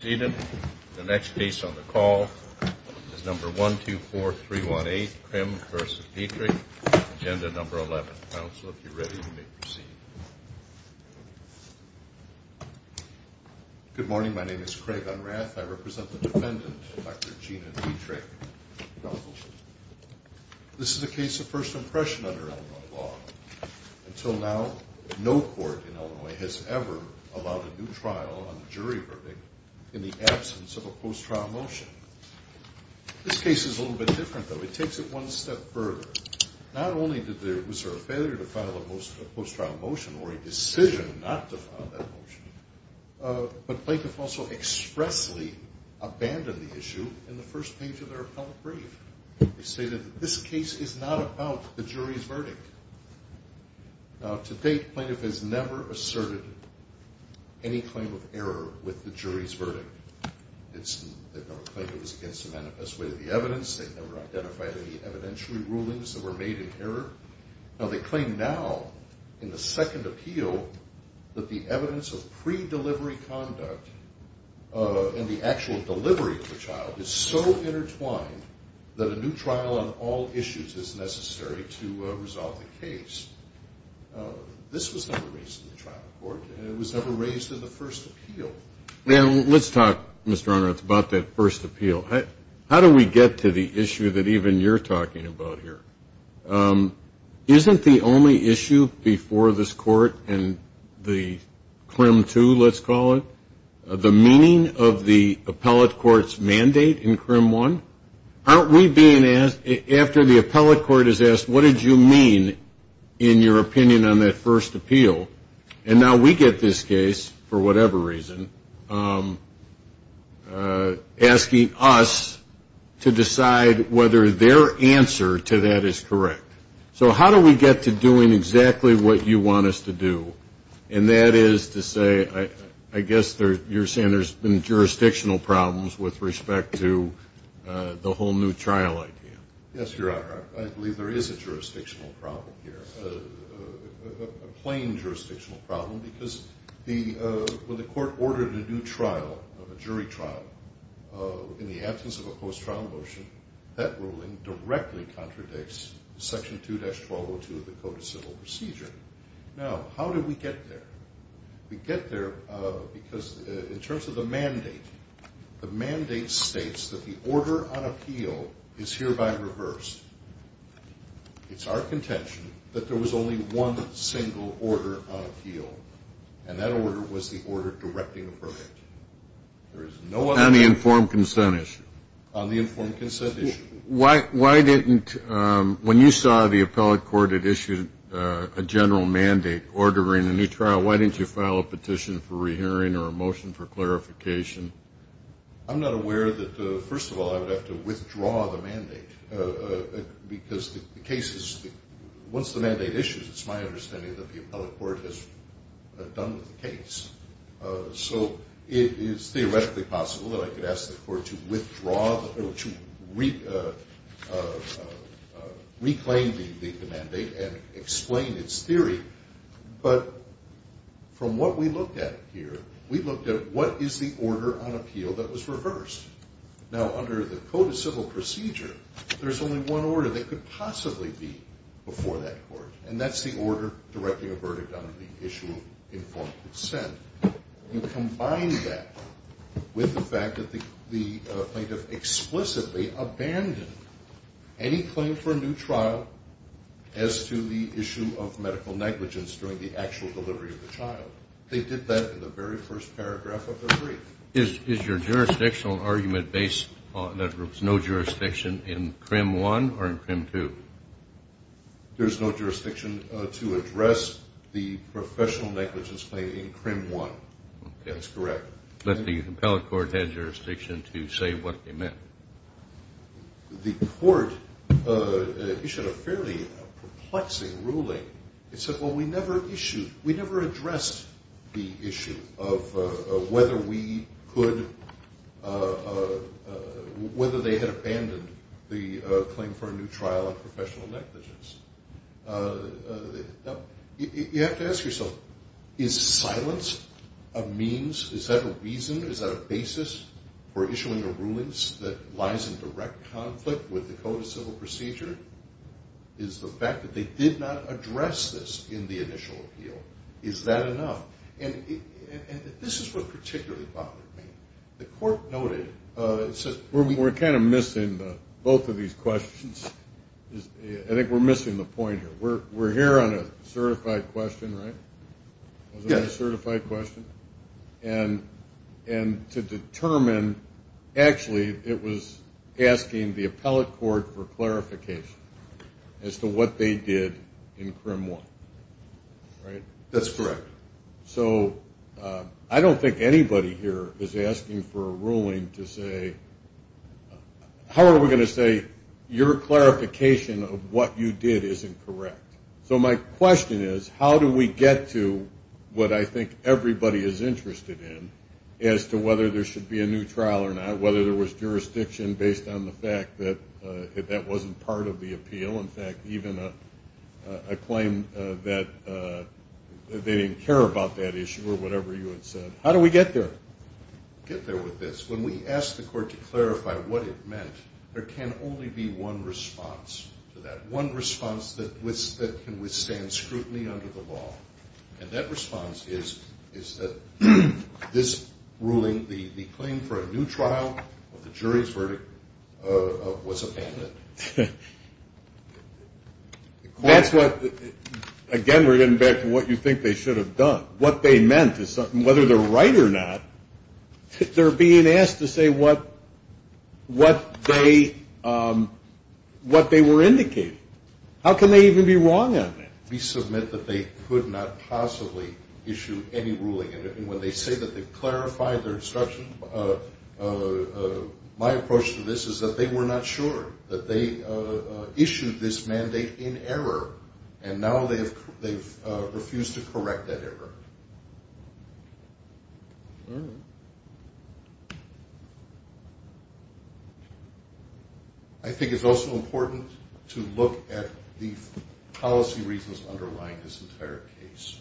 Good morning. My name is Craig Unrath. I represent the defendant, Dr. Gina Dietrich. This is a case of first impression under Illinois law. Until now, no court in Illinois has ever allowed a new trial on the jury verdict in the absence of a post-trial motion. This case is a little bit different, though. It takes it one step further. Not only was there a failure to file a post-trial motion or a decision not to file that motion, but plaintiff also expressly abandoned the issue in the first page of their appellate brief. They stated that this case is not about the jury's verdict. Now, to date, plaintiff has never asserted any claim of error with the jury's verdict. They've never claimed it was against the manifest way of the evidence. They've never identified any evidentiary rulings that were made in error. Now, they claim now, in the second appeal, that the evidence of pre-delivery conduct and the actual delivery of the child is so intertwined that a new trial on all issues is necessary to resolve the case. This was never raised in the trial court and it was never raised in the first appeal. Now, let's talk, Mr. Unrath, about that first appeal. How do we get to the issue that even you're talking about here? Isn't the only issue before this court and the meaning of the appellate court's mandate in CRIM 1? Aren't we being asked, after the appellate court is asked, what did you mean in your opinion on that first appeal? And now we get this case, for whatever reason, asking us to decide whether their answer to that is correct. So how do we get to doing exactly what you want us to do? And that is to say, I guess you're saying there's been jurisdictional problems with respect to the whole new trial idea. Yes, Your Honor. I believe there is a jurisdictional problem here, a plain jurisdictional problem, because when the court ordered a new trial, a jury trial, in the absence of a post-trial motion, that ruling directly contradicts Section 2-1202 of the Code of Civil Procedure. Now, how did we get there? We get there because, in terms of the mandate, the mandate states that the order on appeal is hereby reversed. It's our contention that there was only one single order on appeal, and that order was the order directing a verdict. There is no other... On the informed consent issue. On the informed consent issue. Why didn't, when you saw the appellate court had issued a general mandate ordering a new trial, why didn't you file a petition for rehearing or a motion for clarification? I'm not aware that, first of all, I would have to withdraw the mandate, because the case is, once the mandate issues, it's my understanding that the appellate court has done with the case. So it is theoretically possible that I could ask the court to reclaim the mandate and explain its theory, but from what we looked at here, we looked at what is the order on appeal that was reversed. Now, under the Code of Civil Procedure, there's only one order that could possibly be before that court, and that's the order directing a verdict on the issue of informed consent. You combine that with the fact that the plaintiff explicitly abandoned any claim for a new trial as to the issue of medical negligence during the actual delivery of the child. They did that in the very first paragraph of the brief. Is your jurisdictional argument based on that there was no jurisdiction in CRIM 1 or in CRIM 2? There's no jurisdiction to address the professional negligence claim in CRIM 1. That's correct. But the appellate court had jurisdiction to say what they meant. The court issued a fairly perplexing ruling. It said, well, we never issued, we never addressed the issue of whether we could, whether they had abandoned the claim for a new trial of is that a reason? Is that a basis for issuing a ruling that lies in direct conflict with the Code of Civil Procedure? Is the fact that they did not address this in the initial appeal, is that enough? And this is what particularly bothered me. The court noted... We're kind of missing both of these questions. I think we're missing the point here. We're determined... Actually, it was asking the appellate court for clarification as to what they did in CRIM 1. That's correct. So I don't think anybody here is asking for a ruling to say... How are we going to say your clarification of what you did isn't correct? So my question is, how do we get to what I should be a new trial or not? Whether there was jurisdiction based on the fact that that wasn't part of the appeal? In fact, even a claim that they didn't care about that issue or whatever you had said. How do we get there? Get there with this. When we ask the court to clarify what it meant, there can only be one response to that. One response that can withstand scrutiny under the law. And that ruling, the claim for a new trial of the jury's verdict, was abandoned. That's what... Again, we're getting back to what you think they should have done. What they meant is something... Whether they're right or not, they're being asked to say what they were indicating. How can they even be wrong on that? We submit that they could not possibly issue any ruling. And when they say that they've clarified their instruction, my approach to this is that they were not sure. That they issued this mandate in error. And now they've refused to correct that error. I think it's also important to look at the policy reasons underlying this entire case.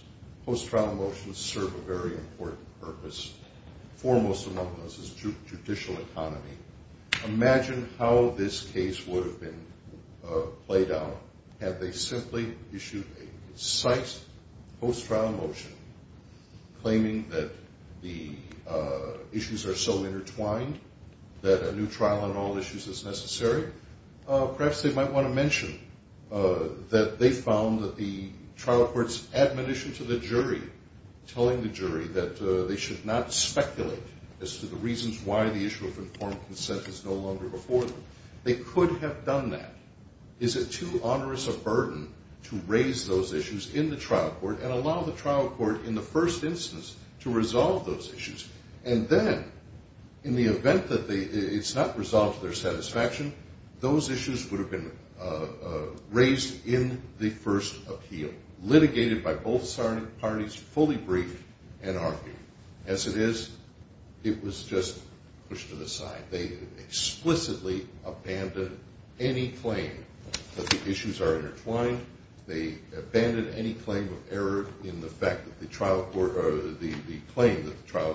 Post-trial motions serve a very important purpose. Foremost among those is judicial economy. Imagine how this case would have been played out had they simply issued a concise post-trial motion claiming that the issues are so intertwined that a new trial on all issues is necessary. Perhaps they might want to mention that they found that the trial court's admonition to the jury, telling the jury that they should not speculate as to the reasons why the issue of informed consent is no longer before them. They could have Is it too onerous a burden to raise those issues in the trial court and allow the trial court in the first instance to resolve those issues? And then, in the event that it's not resolved to their satisfaction, those issues would have been raised in the first appeal, litigated by both parties fully briefed and argued. As it is, it was just pushed to the claim that the issues are intertwined. They abandoned any claim of error in the fact that the claim that the trial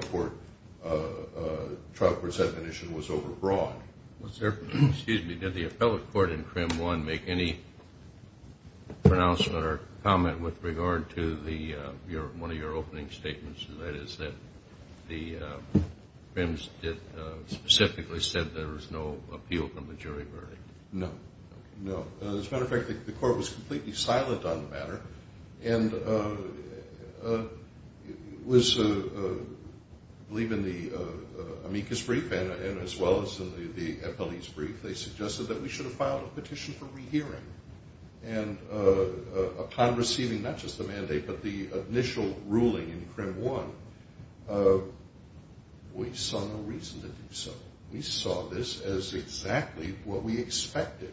court's admonition was overbroad. Excuse me. Did the appellate court in CRIM 1 make any pronouncement or comment with regard to one of your opening statements, and that is that the CRIMs specifically said there was no appeal from the jury verdict? No. As a matter of fact, the court was completely silent on the matter and was, I believe, in the amicus brief and as well as in the appellate's brief, they suggested that we should have filed a petition for rehearing. And upon receiving not just the mandate but the initial ruling in CRIM 1, we saw no reason to do so. We saw this as exactly what we expected,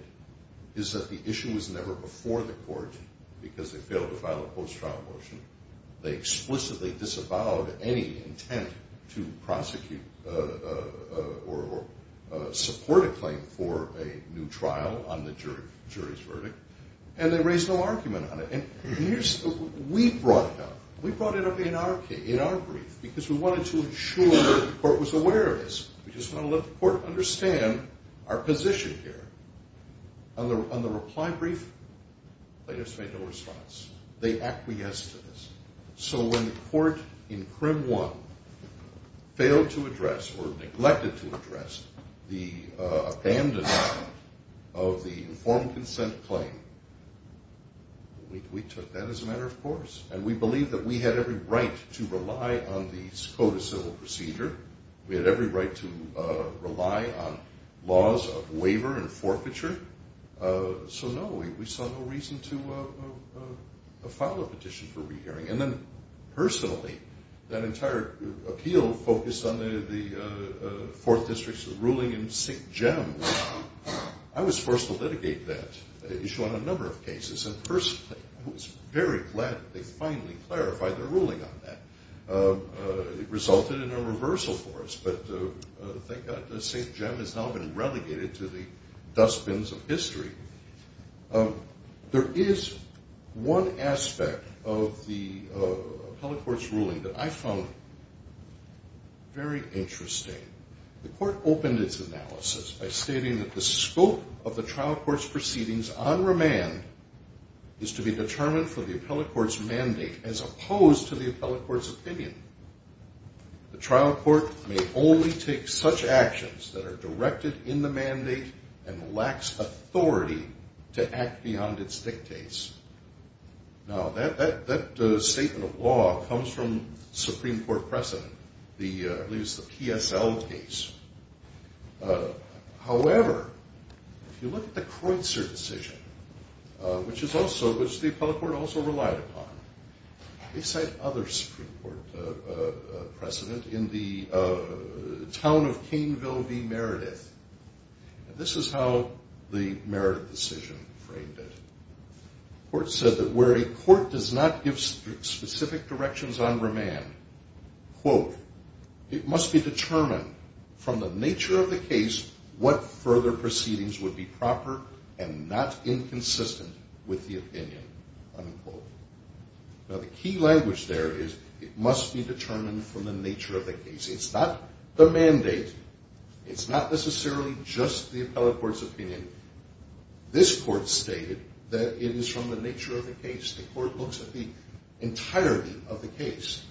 is that the issue was never before the court because they failed to file a post-trial motion. They explicitly disavowed any intent to prosecute or support a claim for a new trial on the because we wanted to ensure that the court was aware of this. We just wanted to let the court understand our position here. On the reply brief, plaintiffs made no response. They acquiesced to this. So when the court in CRIM 1 failed to address or neglected to address the abandonment of the informed consent claim, we took that as a matter of course and we believed that we had every right to rely on the code of civil procedure. We had every right to rely on laws of waiver and forfeiture. So no, we saw no reason to file a petition for rehearing. And then personally, that entire appeal focused on the 4th District's ruling in Sick Gem. I was forced to litigate that issue on a number of cases. And personally, I was very glad that they finally clarified their ruling on that. It resulted in a reversal for us, but thank God that Saint Gem has now been relegated to the dustbins of history. There is one aspect of the appellate court's ruling that I found very interesting. The court opened its analysis by stating that the scope of the trial court's proceedings on remand is to be determined for the appellate court's mandate as opposed to the appellate court's opinion. The trial court may only take such actions that are directed in the mandate and lacks authority to act beyond its dictates. Now, that statement of law comes from Supreme Court decision, which the appellate court also relied upon. They cite other Supreme Court precedent in the town of Caneville v. Meredith. This is how the Meredith decision framed it. The court said that where a court does not give specific directions on remand, quote, it must be determined from the nature of the case what further proceedings would be proper and not inconsistent with the opinion, unquote. Now, the key language there is it must be determined from the nature of the case. It's not the mandate. It's not necessarily just the appellate court's opinion. This court stated that it is from the nature of the case. The court looks at the entirety of the case,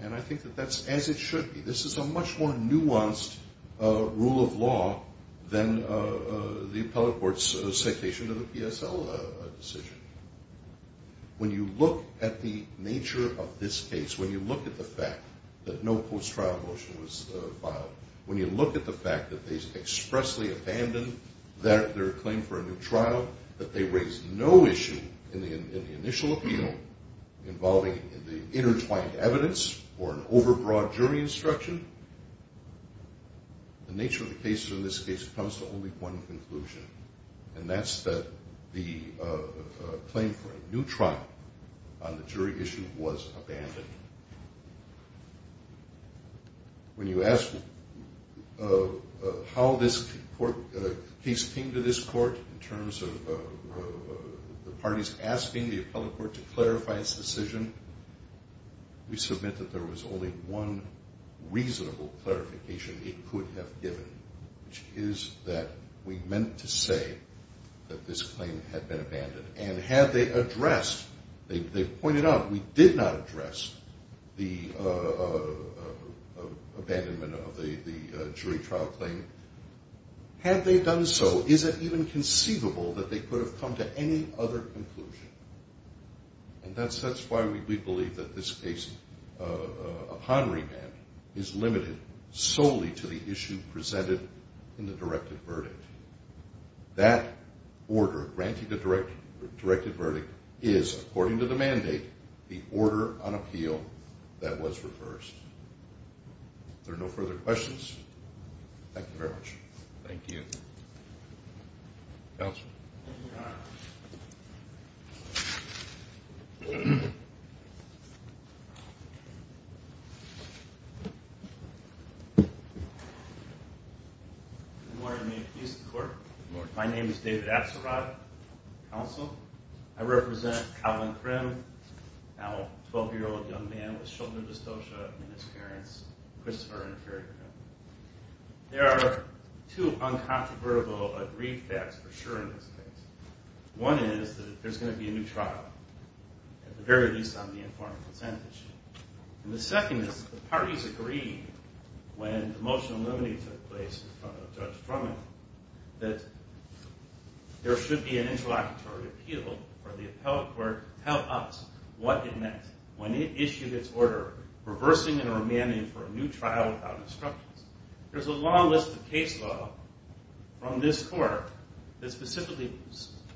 and I think that that's as it should be. This is a much more nuanced rule of law than the appellate court's citation of the PSL decision. When you look at the nature of this case, when you look at the fact that no post-trial motion was filed, when you look at the fact that they expressly abandoned their claim for a new trial, that they raised no issue in the initial appeal involving the intertwined evidence or an overbroad jury instruction, the nature of the case in this case comes to only one conclusion, and that's that the claim for a new trial on the jury issue was abandoned. When you ask how this case came to this court in terms of the parties asking the appellate court to clarify its decision, we submit that there was only one reasonable clarification it could have given, which is that we meant to say that this claim had been abandoned, and had they addressed—they pointed out we did not address the abandonment of the jury trial claim—had they done so, is it even conceivable that they could have come to any other conclusion, and that's why we believe that this case, upon remand, is limited solely to the issue presented in the directive verdict. That order granting the directive verdict is, according to the mandate, the order on appeal that was reversed. Are there no further questions? Thank you very much. Thank you. Counsel. Good morning, Your Honor. My name is David Axelrod. Counsel. I represent Collin Krim, now a 12-year-old young man with shoulder dystocia in his parents, Christopher and Frederick Krim. There are two uncontrovertible agreed facts for sure in this case. One is that there's going to be a new trial, at the very least on the informed consent issue. And the second is the parties agreed, when the motion eliminating took place in front of Judge Drummond, that there should be an interlocutory appeal for the appellate court to tell us what it meant when it issued its order reversing and remanding for a new trial without instructions. There's a long list of case law from this court that specifically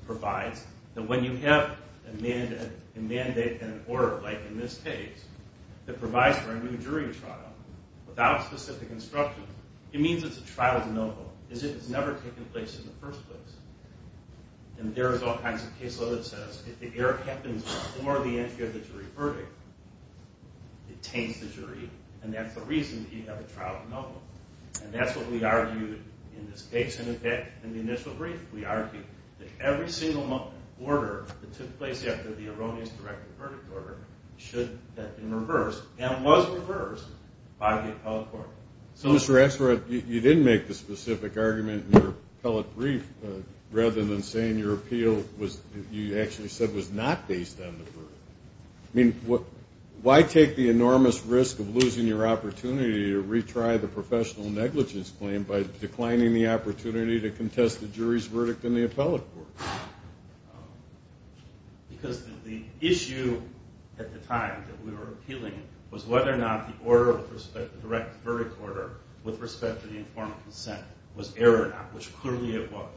provides that when you have a mandate and an order, like in this case, that provides for a new jury trial without specific instructions, it means it's a trial de novo. It's never taken place in the first place. And there's all kinds of case law that says if the error happens before the entry of the trial de novo. And that's what we argued in this case. And in fact, in the initial brief, we argued that every single order that took place after the erroneous directed verdict order should have been reversed and was reversed by the appellate court. So, Mr. Astor, you didn't make the specific argument in your appellate brief rather than saying your appeal was, you actually said, was not based on the verdict. I mean, why take the enormous risk of losing your opportunity to retry the professional negligence claim by declining the opportunity to contest the jury's verdict in the appellate court? Because the issue at the time that we were appealing was whether or not the order of respect, the direct verdict order, with respect to the informal consent, was error or not, which clearly it was.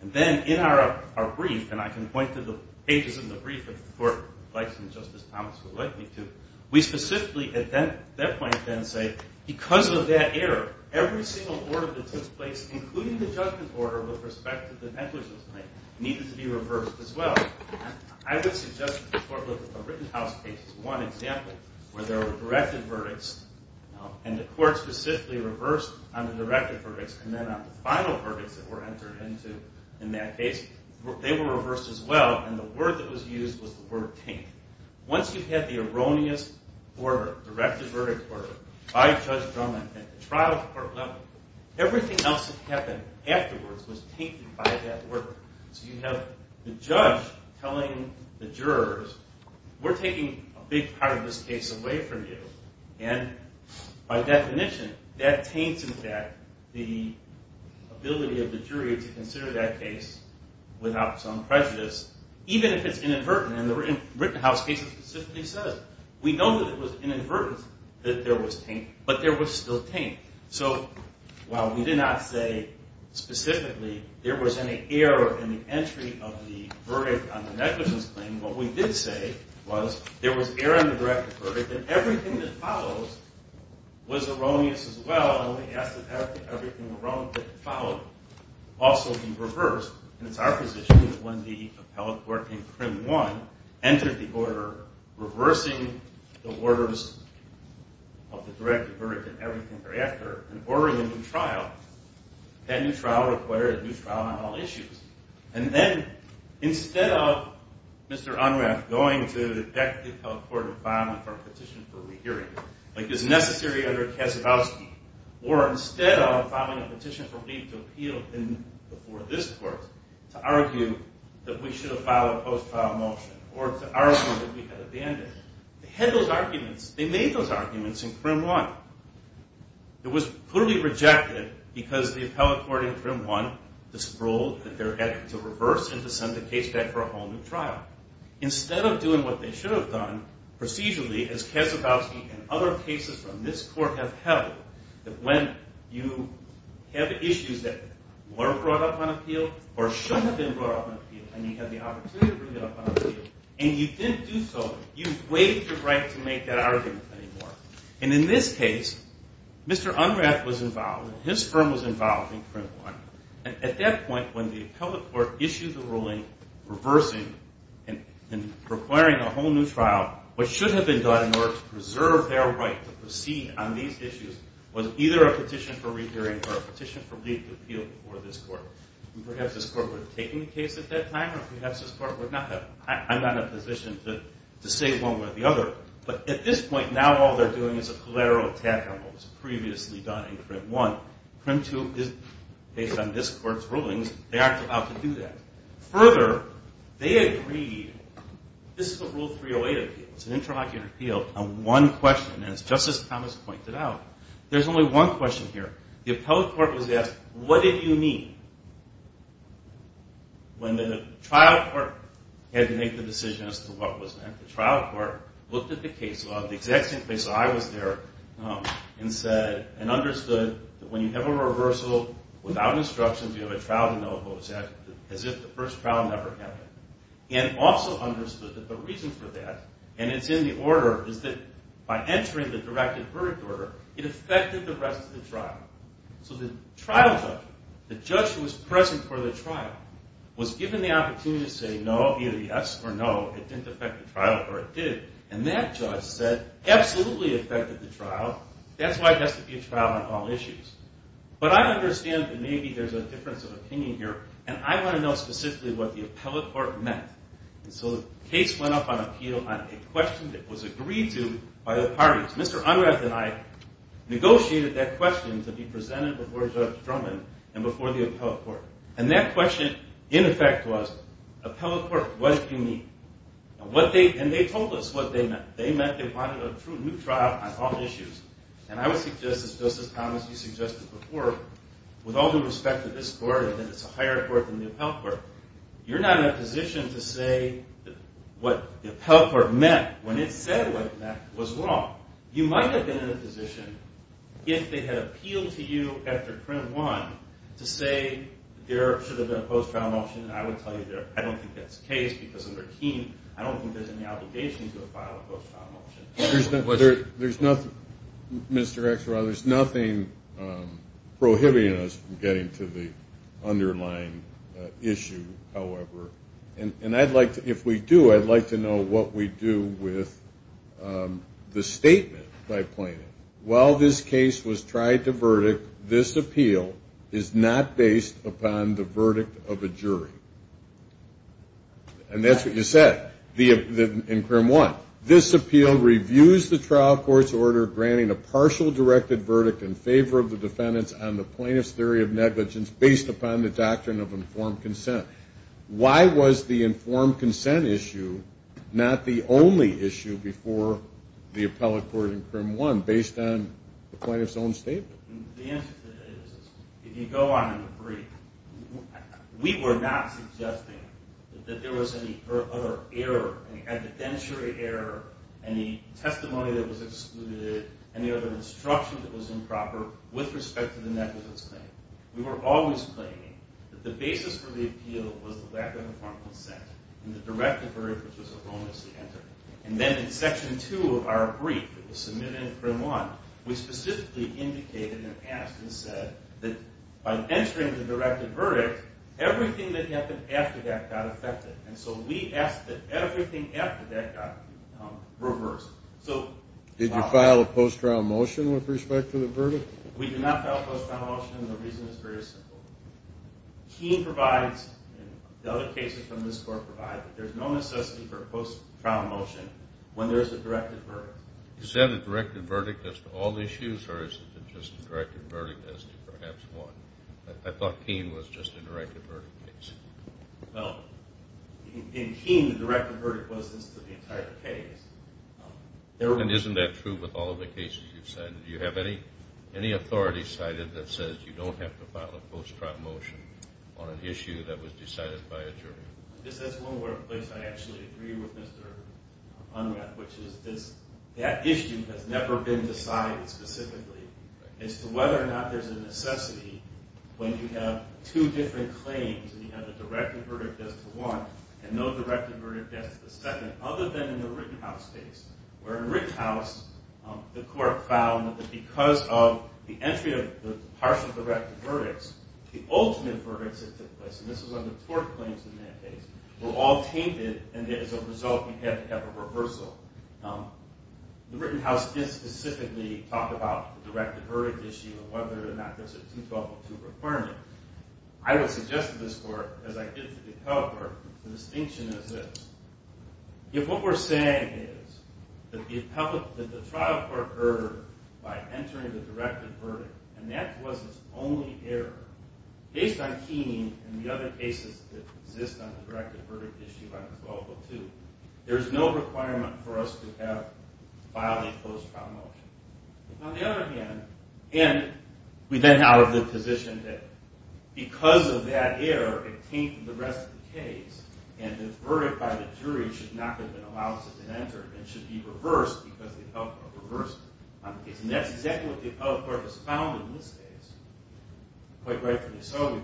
And then in our brief, and I can point to the pages in the brief that the court, like Justice Thomas, would like me to, we specifically at that point then say, because of that error, every single order that took place, including the judgment order with respect to the negligence claim, needed to be reversed as well. And I would suggest that the court look at the written house case as one example, where there were directed verdicts, and the court specifically reversed on the directed verdicts and then on the final verdicts that were entered into in that case. They were reversed as well, and the word that was used was the word taint. Once you had the erroneous order, directed verdict order, by Judge Drummond at the trial court level, everything else that happened afterwards was tainted by that order. So you have the judge telling the jurors, we're taking a big part of this case away from you. And by definition, that taints, in fact, the ability of the jury to consider that case without some prejudice, even if it's inadvertent. And the written house case specifically says, we know that it was inadvertent that there was taint, but there was still taint. So while we did not say specifically there was any error in the entry of the verdict on the negligence claim, what we did say was there was error in the directed verdict and everything that follows was erroneous as well, and we asked that everything erroneous that followed also be reversed. And it's our position that when the appellate court in CRIM 1 entered the order reversing the orders of the directed verdict and everything thereafter and ordering a new trial, that new trial required a new trial on all issues. And then instead of Mr. Unrath going to the detective appellate court and filing for a petition for a re-hearing, like is necessary under Kasichowski, or instead of filing a petition for leave to appeal before this court to argue that we should have filed a post-trial motion or to argue that we had abandoned, they had those arguments. They made those arguments in CRIM 1. It was clearly rejected because the appellate court in CRIM 1 disproved that they had to reverse and to send the case back for a whole new trial. Instead of doing what they should have done procedurally, as Kasichowski and other cases from this court have held, that when you have issues that were brought up on appeal or should have been brought up on appeal and you had the opportunity to bring it up on appeal and you didn't do so, you waived your right to make that argument anymore. And in this case, Mr. Unrath was involved. His firm was involved in CRIM 1. And at that point, when the appellate court issued the ruling reversing and requiring a whole new trial, what should have been done in order to preserve their right to proceed on these issues was either a petition for re-hearing or a petition for leave to appeal before this court. And perhaps this court would have taken the case at that time or perhaps this court would not have. I'm not in a position to say one way or the other. But at this point, now all they're doing is a collateral attack on what was previously done in CRIM 1. CRIM 2 is based on this court's rulings. They aren't allowed to do that. Further, they agreed. This is a Rule 308 appeal. It's an intraocular appeal on one question, as Justice Thomas pointed out. There's only one question here. The appellate court was asked, what did you mean? When the trial court had to make the decision as to what was meant, the trial court looked at the case law, the exact same case law I was there, and said, and understood that when you have a reversal without instructions, you have a trial to know about, as if the first trial never happened. And also understood that the reason for that, and it's in the order, is that by entering the directive verdict order, it affected the rest of the trial. So the trial judge, the judge who was present for the trial, was given the opportunity to say no, either yes or no. It didn't affect the trial, or it did. And that judge said, absolutely affected the trial. That's why it has to be a trial on all issues. But I understand that maybe there's a difference of opinion here, and I want to know specifically what the appellate court meant. And so the case went up on appeal on a question that was agreed to by the parties. Mr. Unrath and I negotiated that question to be presented before Judge Drummond and before the appellate court. And that question, in effect, was, appellate court, what do you mean? And they told us what they meant. They meant they wanted a new trial on all issues. And I would suggest, as Justice Thomas, you suggested before, with all due respect to this court, and that it's a higher court than the appellate court, you're not in a position to say what the appellate court meant when it said what it meant was wrong. You might have been in a position, if they had appealed to you after print one, to say there should have been a post-trial motion. And I would tell you there, I don't think that's the case, because under Keene, I don't think there's any obligation to a file a post-trial motion. There's nothing, Mr. Exaro, there's nothing prohibiting us from getting to the underlying issue, however. And I'd like to, if we do, I'd like to know what we do with the statement, if I may point it, while this case was tried to verdict, this appeal is not based upon the verdict of a jury. And that's what you said, in crim one. This appeal reviews the trial court's order granting a partial directed verdict in favor of the defendants on the plaintiff's theory of negligence based upon the doctrine of informed consent. Why was the informed consent issue not the only issue before the appellate court in crim one, based on the plaintiff's own statement? The answer to that is, if you go on in the brief, we were not suggesting that there was any other error, any evidentiary error, any testimony that was excluded, any other instruction that was improper with respect to the negligence claim. We were always claiming that the basis for the appeal was the lack of informed consent and the directed verdict, which was a wrongly entered. And then in section two of our brief that was submitted in crim one, we specifically indicated and asked and said that by entering the directed verdict, everything that happened after that got affected. And so we asked that everything after that got reversed. Did you file a post-trial motion with respect to the verdict? We did not file a post-trial motion, and the reason is very simple. Keene provides, and the other cases from this court provide, that there's no necessity for a post-trial motion when there's a directed verdict. Is that a directed verdict as to all issues, or is it just a directed verdict as to perhaps one? I thought Keene was just a directed verdict case. Well, in Keene, the directed verdict was as to the entire case. And isn't that true with all of the cases you've said? Do you have any authority cited that says you don't have to file a post-trial motion on an issue that was decided by a jury? This is one workplace I actually agree with Mr. Unrath, which is that issue has never been decided specifically as to whether or not there's a necessity when you have two different claims and you have a directed verdict as to one and no directed verdict as to the other. Because of the entry of the partial directed verdicts, the ultimate verdicts that took place, and this is one of the tort claims in that case, were all tainted, and as a result you had to have a reversal. The Rittenhouse did specifically talk about the directed verdict issue and whether or not there's a 2-12-2 requirement. I would suggest to this court, as I did to the Appellate Court, the distinction is this. If what we're saying is that the trial court erred by entering the directed verdict, and that was its only error, based on Keeney and the other cases that exist on the directed verdict issue on 2-12-2, there's no requirement for us to have a filing post-trial motion. On the other hand, and we then have the position that because of that error, it tainted the rest of the case, and the verdict by the jury should not have been allowed to be entered and should be reversed because the appellate court reversed it on the case. And that's exactly what the Appellate Court has found in this case, quite rightfully so.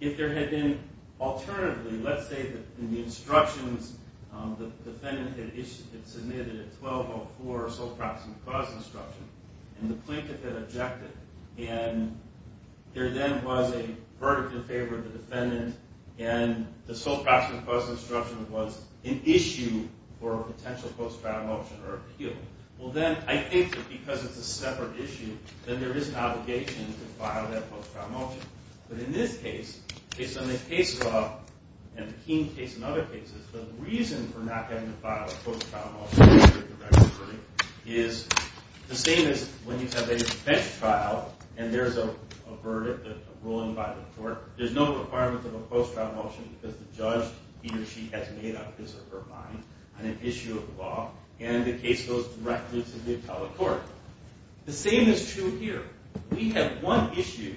If there had been, alternatively, let's say that in the instructions, the defendant had submitted a 12-0-4 sole proxy clause instruction, and the plaintiff had objected, and there then was a verdict in favor of the defendant, and the sole proxy clause instruction was an issue for a potential post-trial motion or appeal, well then, I think that because it's a separate issue, then there is an obligation to file that post-trial motion. But in this case, based on the case law, and the Keeney case and other cases, the reason for not having to file a post-trial motion is the same as when you have a bench trial, and there's a verdict, a ruling by the court, there's no requirement of a post-trial motion because the judge, he or she, has made up his or her mind on an issue of the law, and the case goes directly to the appellate court. The same is true here. We have one issue,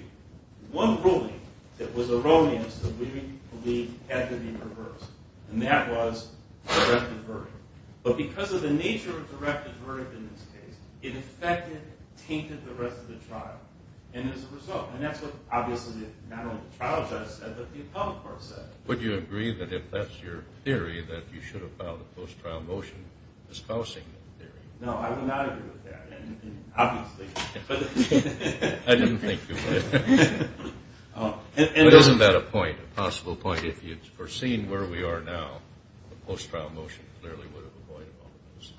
one ruling, that was erroneous that we believe had to be reversed, and that was a directed verdict. But because of the nature of the directed verdict in this case, it affected, tainted the rest of the trial. And as a result, and that's what, obviously, not only the trial judge said, but the appellate court said. Would you agree that if that's your theory, that you should have filed a post-trial motion espousing that theory? No, I would not agree with that, obviously. I didn't think you would. But isn't that a point, a possible point, if you'd foreseen where we are now, a post-trial motion clearly would have avoided all of this.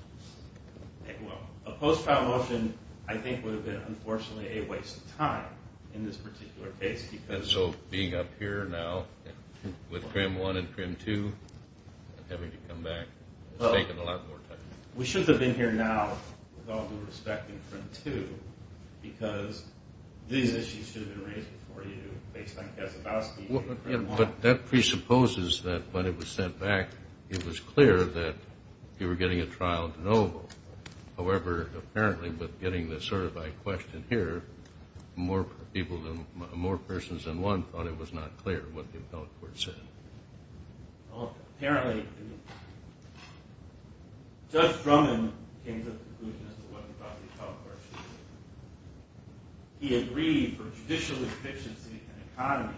Well, a post-trial motion, I think, would have been, unfortunately, a waste of time in this particular case. And so, being up here now, with Trim 1 and Trim 2, and having to come back, it's taken a lot more time. We should have been here now, with all due respect, in Trim 2, because these issues should have been raised before you, based on Kasabowski and Trim 1. But that presupposes that when it was sent back, it was clear that you were getting a mild no vote. However, apparently, with getting the survey question here, more people than, more persons than one thought it was not clear what the appellate court said. Well, apparently, Judge Drummond came to the conclusion as to what he thought the appellate court should do. He agreed, for judicial efficiency and economy,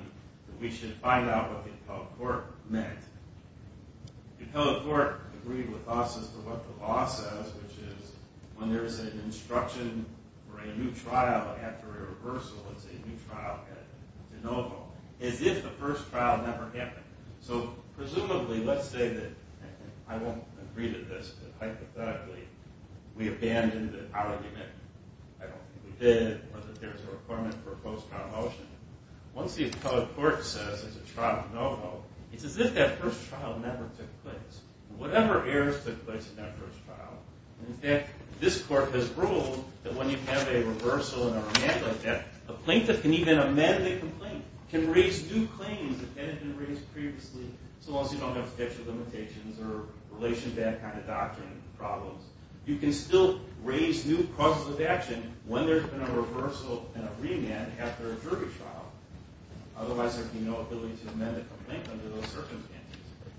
that we should find out what the appellate court meant. The appellate court agreed with us as to what the law says, which is, when there is an instruction for a new trial after a reversal, it's a new trial at de novo, as if the first trial never happened. So, presumably, let's say that, I won't agree to this, but hypothetically, we abandon the argument. I don't think we did, or that there's a requirement for a post-trial motion. Once the appellate court says it's a trial at de novo, it's as if that first trial never took place. Whatever errors took place in that first trial, in fact, this court has ruled that when you have a reversal and a remand like that, a plaintiff can even amend a complaint, can raise new claims that hadn't been raised previously, so long as you don't have special limitations or relation to that kind of doctrine problems. You can still raise new causes of action when there's been a reversal and a remand after a jury trial. Otherwise, there would be no ability to amend a complaint under those circumstances.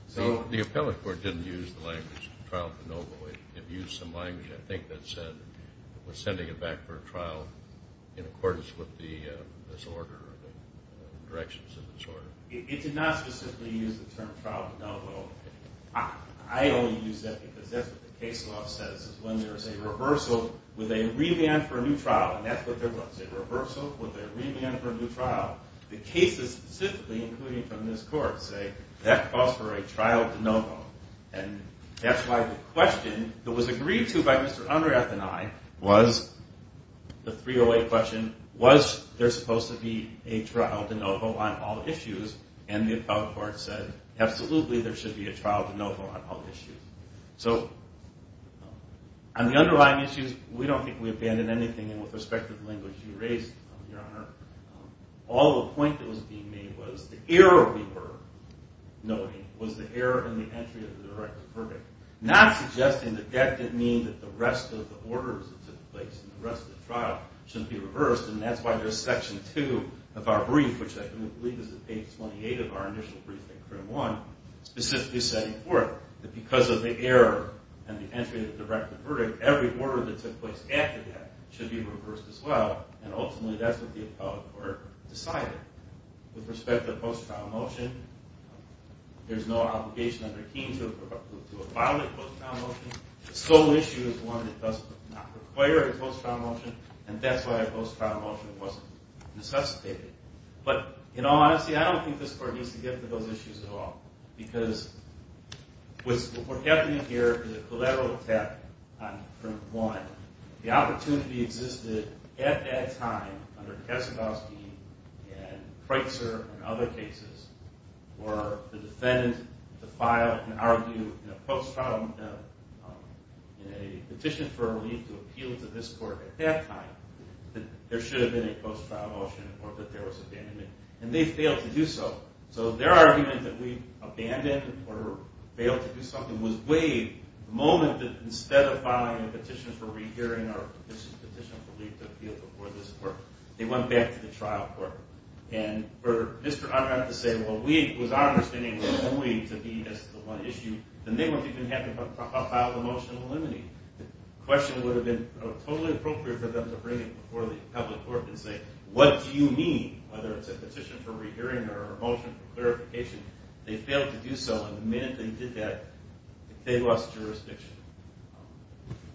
So, the appellate court didn't use the language trial de novo. It used some language, I think, that said it was sending it back for a trial in accordance with the disorder or the directions of the disorder. It did not specifically use the term trial de novo. I only use that because that's what the case law says, is when there's a reversal with a remand for a new trial, the cases specifically, including from this court, say that calls for a trial de novo. And that's why the question that was agreed to by Mr. Unrath and I was the 308 question, was there supposed to be a trial de novo on all issues? And the appellate court said, absolutely, there should be a trial de novo on all issues. So, on the underlying issues, we don't think we abandoned anything with respect to the disorder. All the point that was being made was the error we were noting was the error in the entry of the directive verdict. Not suggesting that that didn't mean that the rest of the orders that took place in the rest of the trial shouldn't be reversed. And that's why there's Section 2 of our brief, which I believe is at page 28 of our initial brief at CRIM 1, specifically setting forth that because of the error and the entry of the directive verdict, every order that took place after that should be reversed as well. And ultimately, that's what the appellate court decided. With respect to the post-trial motion, there's no obligation under Keene to abide by the post-trial motion. The sole issue is one that does not require a post-trial motion, and that's why a post-trial motion wasn't necessitated. But, in all honesty, I don't think this court needs to get into those issues at all. Because what's happening here is a collateral attack on CRIM 1. The opportunity existed at that time under Keselowski and Kreitzer and other cases for the defendant to file and argue in a post-trial, in a petition for relief to appeal to this court at that time that there should have been a post-trial motion or that there was abandonment. And they failed to do so. So their argument that we abandoned or failed to do something was waived the moment that instead of filing a petition for rehearing or a petition for relief to appeal before this court, they went back to the trial court. And for Mr. Unger to say, well, we, it was our understanding that only to be as the one issue, then they wouldn't even have to file a motion eliminating. The question would have been totally appropriate for them to bring it before the appellate court and say, what do you mean? Whether it's a petition for rehearing or a motion for clarification. They failed to do so. The minute they did that, they lost jurisdiction.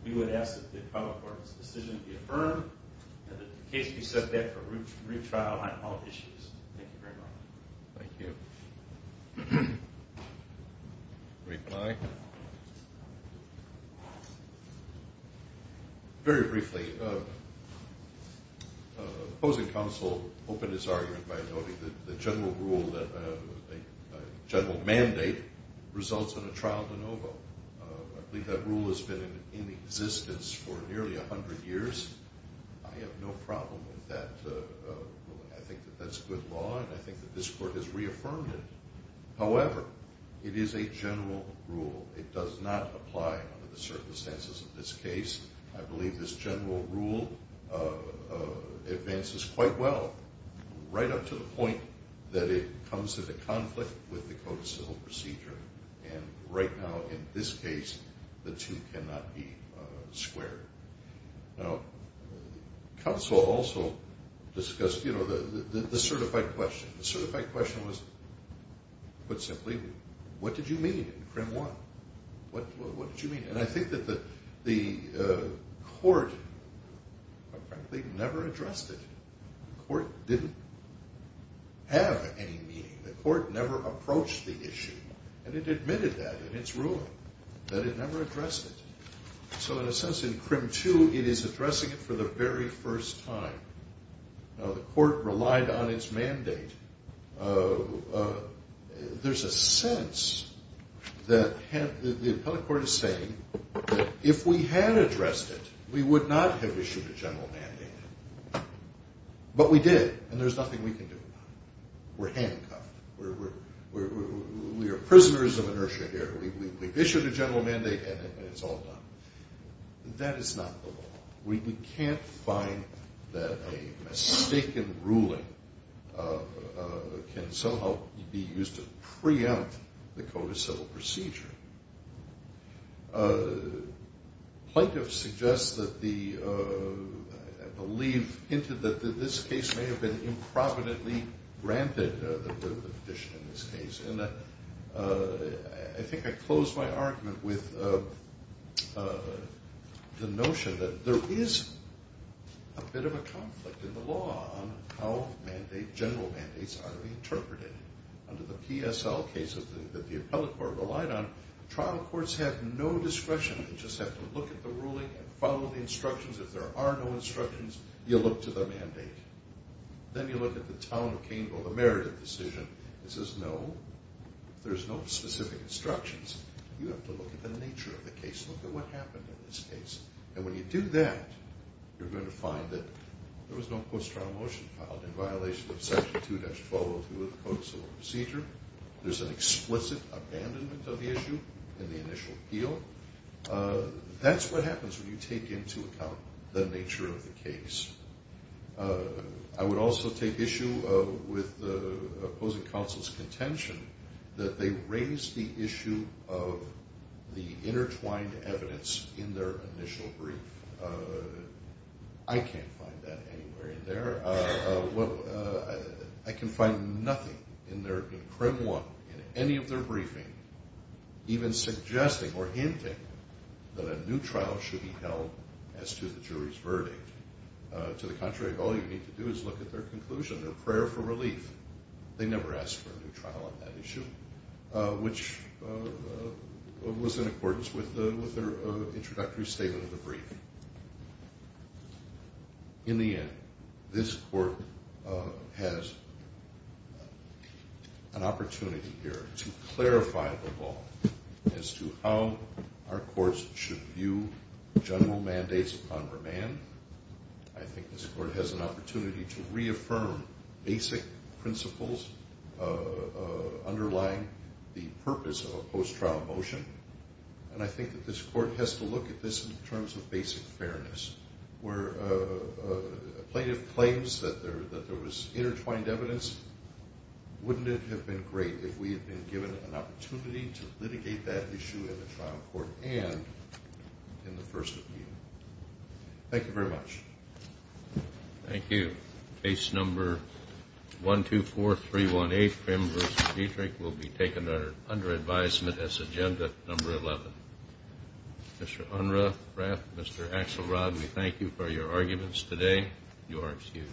We would ask that the appellate court's decision be affirmed and that the case be set back for retrial on all issues. Thank you very much. Thank you. Reply. Very briefly, opposing counsel opened his argument by noting that the general rule, general mandate results in a trial de novo. I believe that rule has been in existence for nearly 100 years. I have no problem with that. I think that that's good law and I think that this court has reaffirmed it. However, it is a general rule. It does not apply under the circumstances of this case. I believe this general rule advances quite well. Right up to the point that it comes into conflict with the Code of Civil Procedure. Right now, in this case, the two cannot be squared. Counsel also discussed the certified question. The certified question was, put simply, what did you mean in CRIM 1? What did you mean? I think that the court never addressed it. The court didn't have any meaning. The court never approached the issue, and it admitted that in its ruling, that it never addressed it. So, in a sense, in CRIM 2, it is addressing it for the very first time. Now, the court relied on its mandate. There's a sense that the appellate court is saying, if we had addressed it, we would not have issued a general mandate. But we did, and there's nothing we can do about it. We're handcuffed. We are prisoners of inertia here. We've issued a general mandate, and it's all done. That is not the law. We can't find that a mistaken ruling can somehow be used to preempt the Code of Civil Procedure. Plaintiffs suggest that the belief into this case may have been improvidently granted, the petition in this case. And I think I close my argument with the notion that there is a bit of a conflict in the law on how general mandates are interpreted. Under the PSL cases that the appellate court relied on, trial courts have no discretion. They just have to look at the ruling and follow the instructions. If there are no instructions, you look to the mandate. Then you look at the town of Caneville, the Meredith decision. It says, no, there's no specific instructions. You have to look at the nature of the case. Look at what happened in this case. And when you do that, you're going to find that there was no post-trial motion filed in violation of Section 2-1202 of the Code of Civil Procedure. There's an explicit abandonment of the issue in the initial appeal. That's what happens when you take into account the nature of the case. I would also take issue with the opposing counsel's contention that they raised the issue of the intertwined evidence in their initial brief. I can't find that anywhere in there. I can find nothing in CRIM 1, in any of their briefing, even suggesting or hinting that a new trial should be held as to the jury's verdict. To the contrary, all you need to do is look at their conclusion, their prayer for relief. They never asked for a new trial on that issue, which was in accordance with their introductory statement of the brief. In the end, this Court has an opportunity here to clarify the law as to how our courts should view general mandates upon remand. I think this Court has an opportunity to reaffirm basic principles underlying the purpose of a post-trial motion. I think this Court has to look at this in terms of basic fairness. Where a plaintiff claims that there was intertwined evidence, wouldn't it have been great if we had been given an opportunity to litigate that issue in the trial court and in the first appeal? Thank you very much. Thank you. Case number 124318, CRIM v. Dietrich, will be taken under advisement as agenda number 11. Mr. Unruh, Rath, Mr. Axelrod, we thank you for your arguments today. You are excused.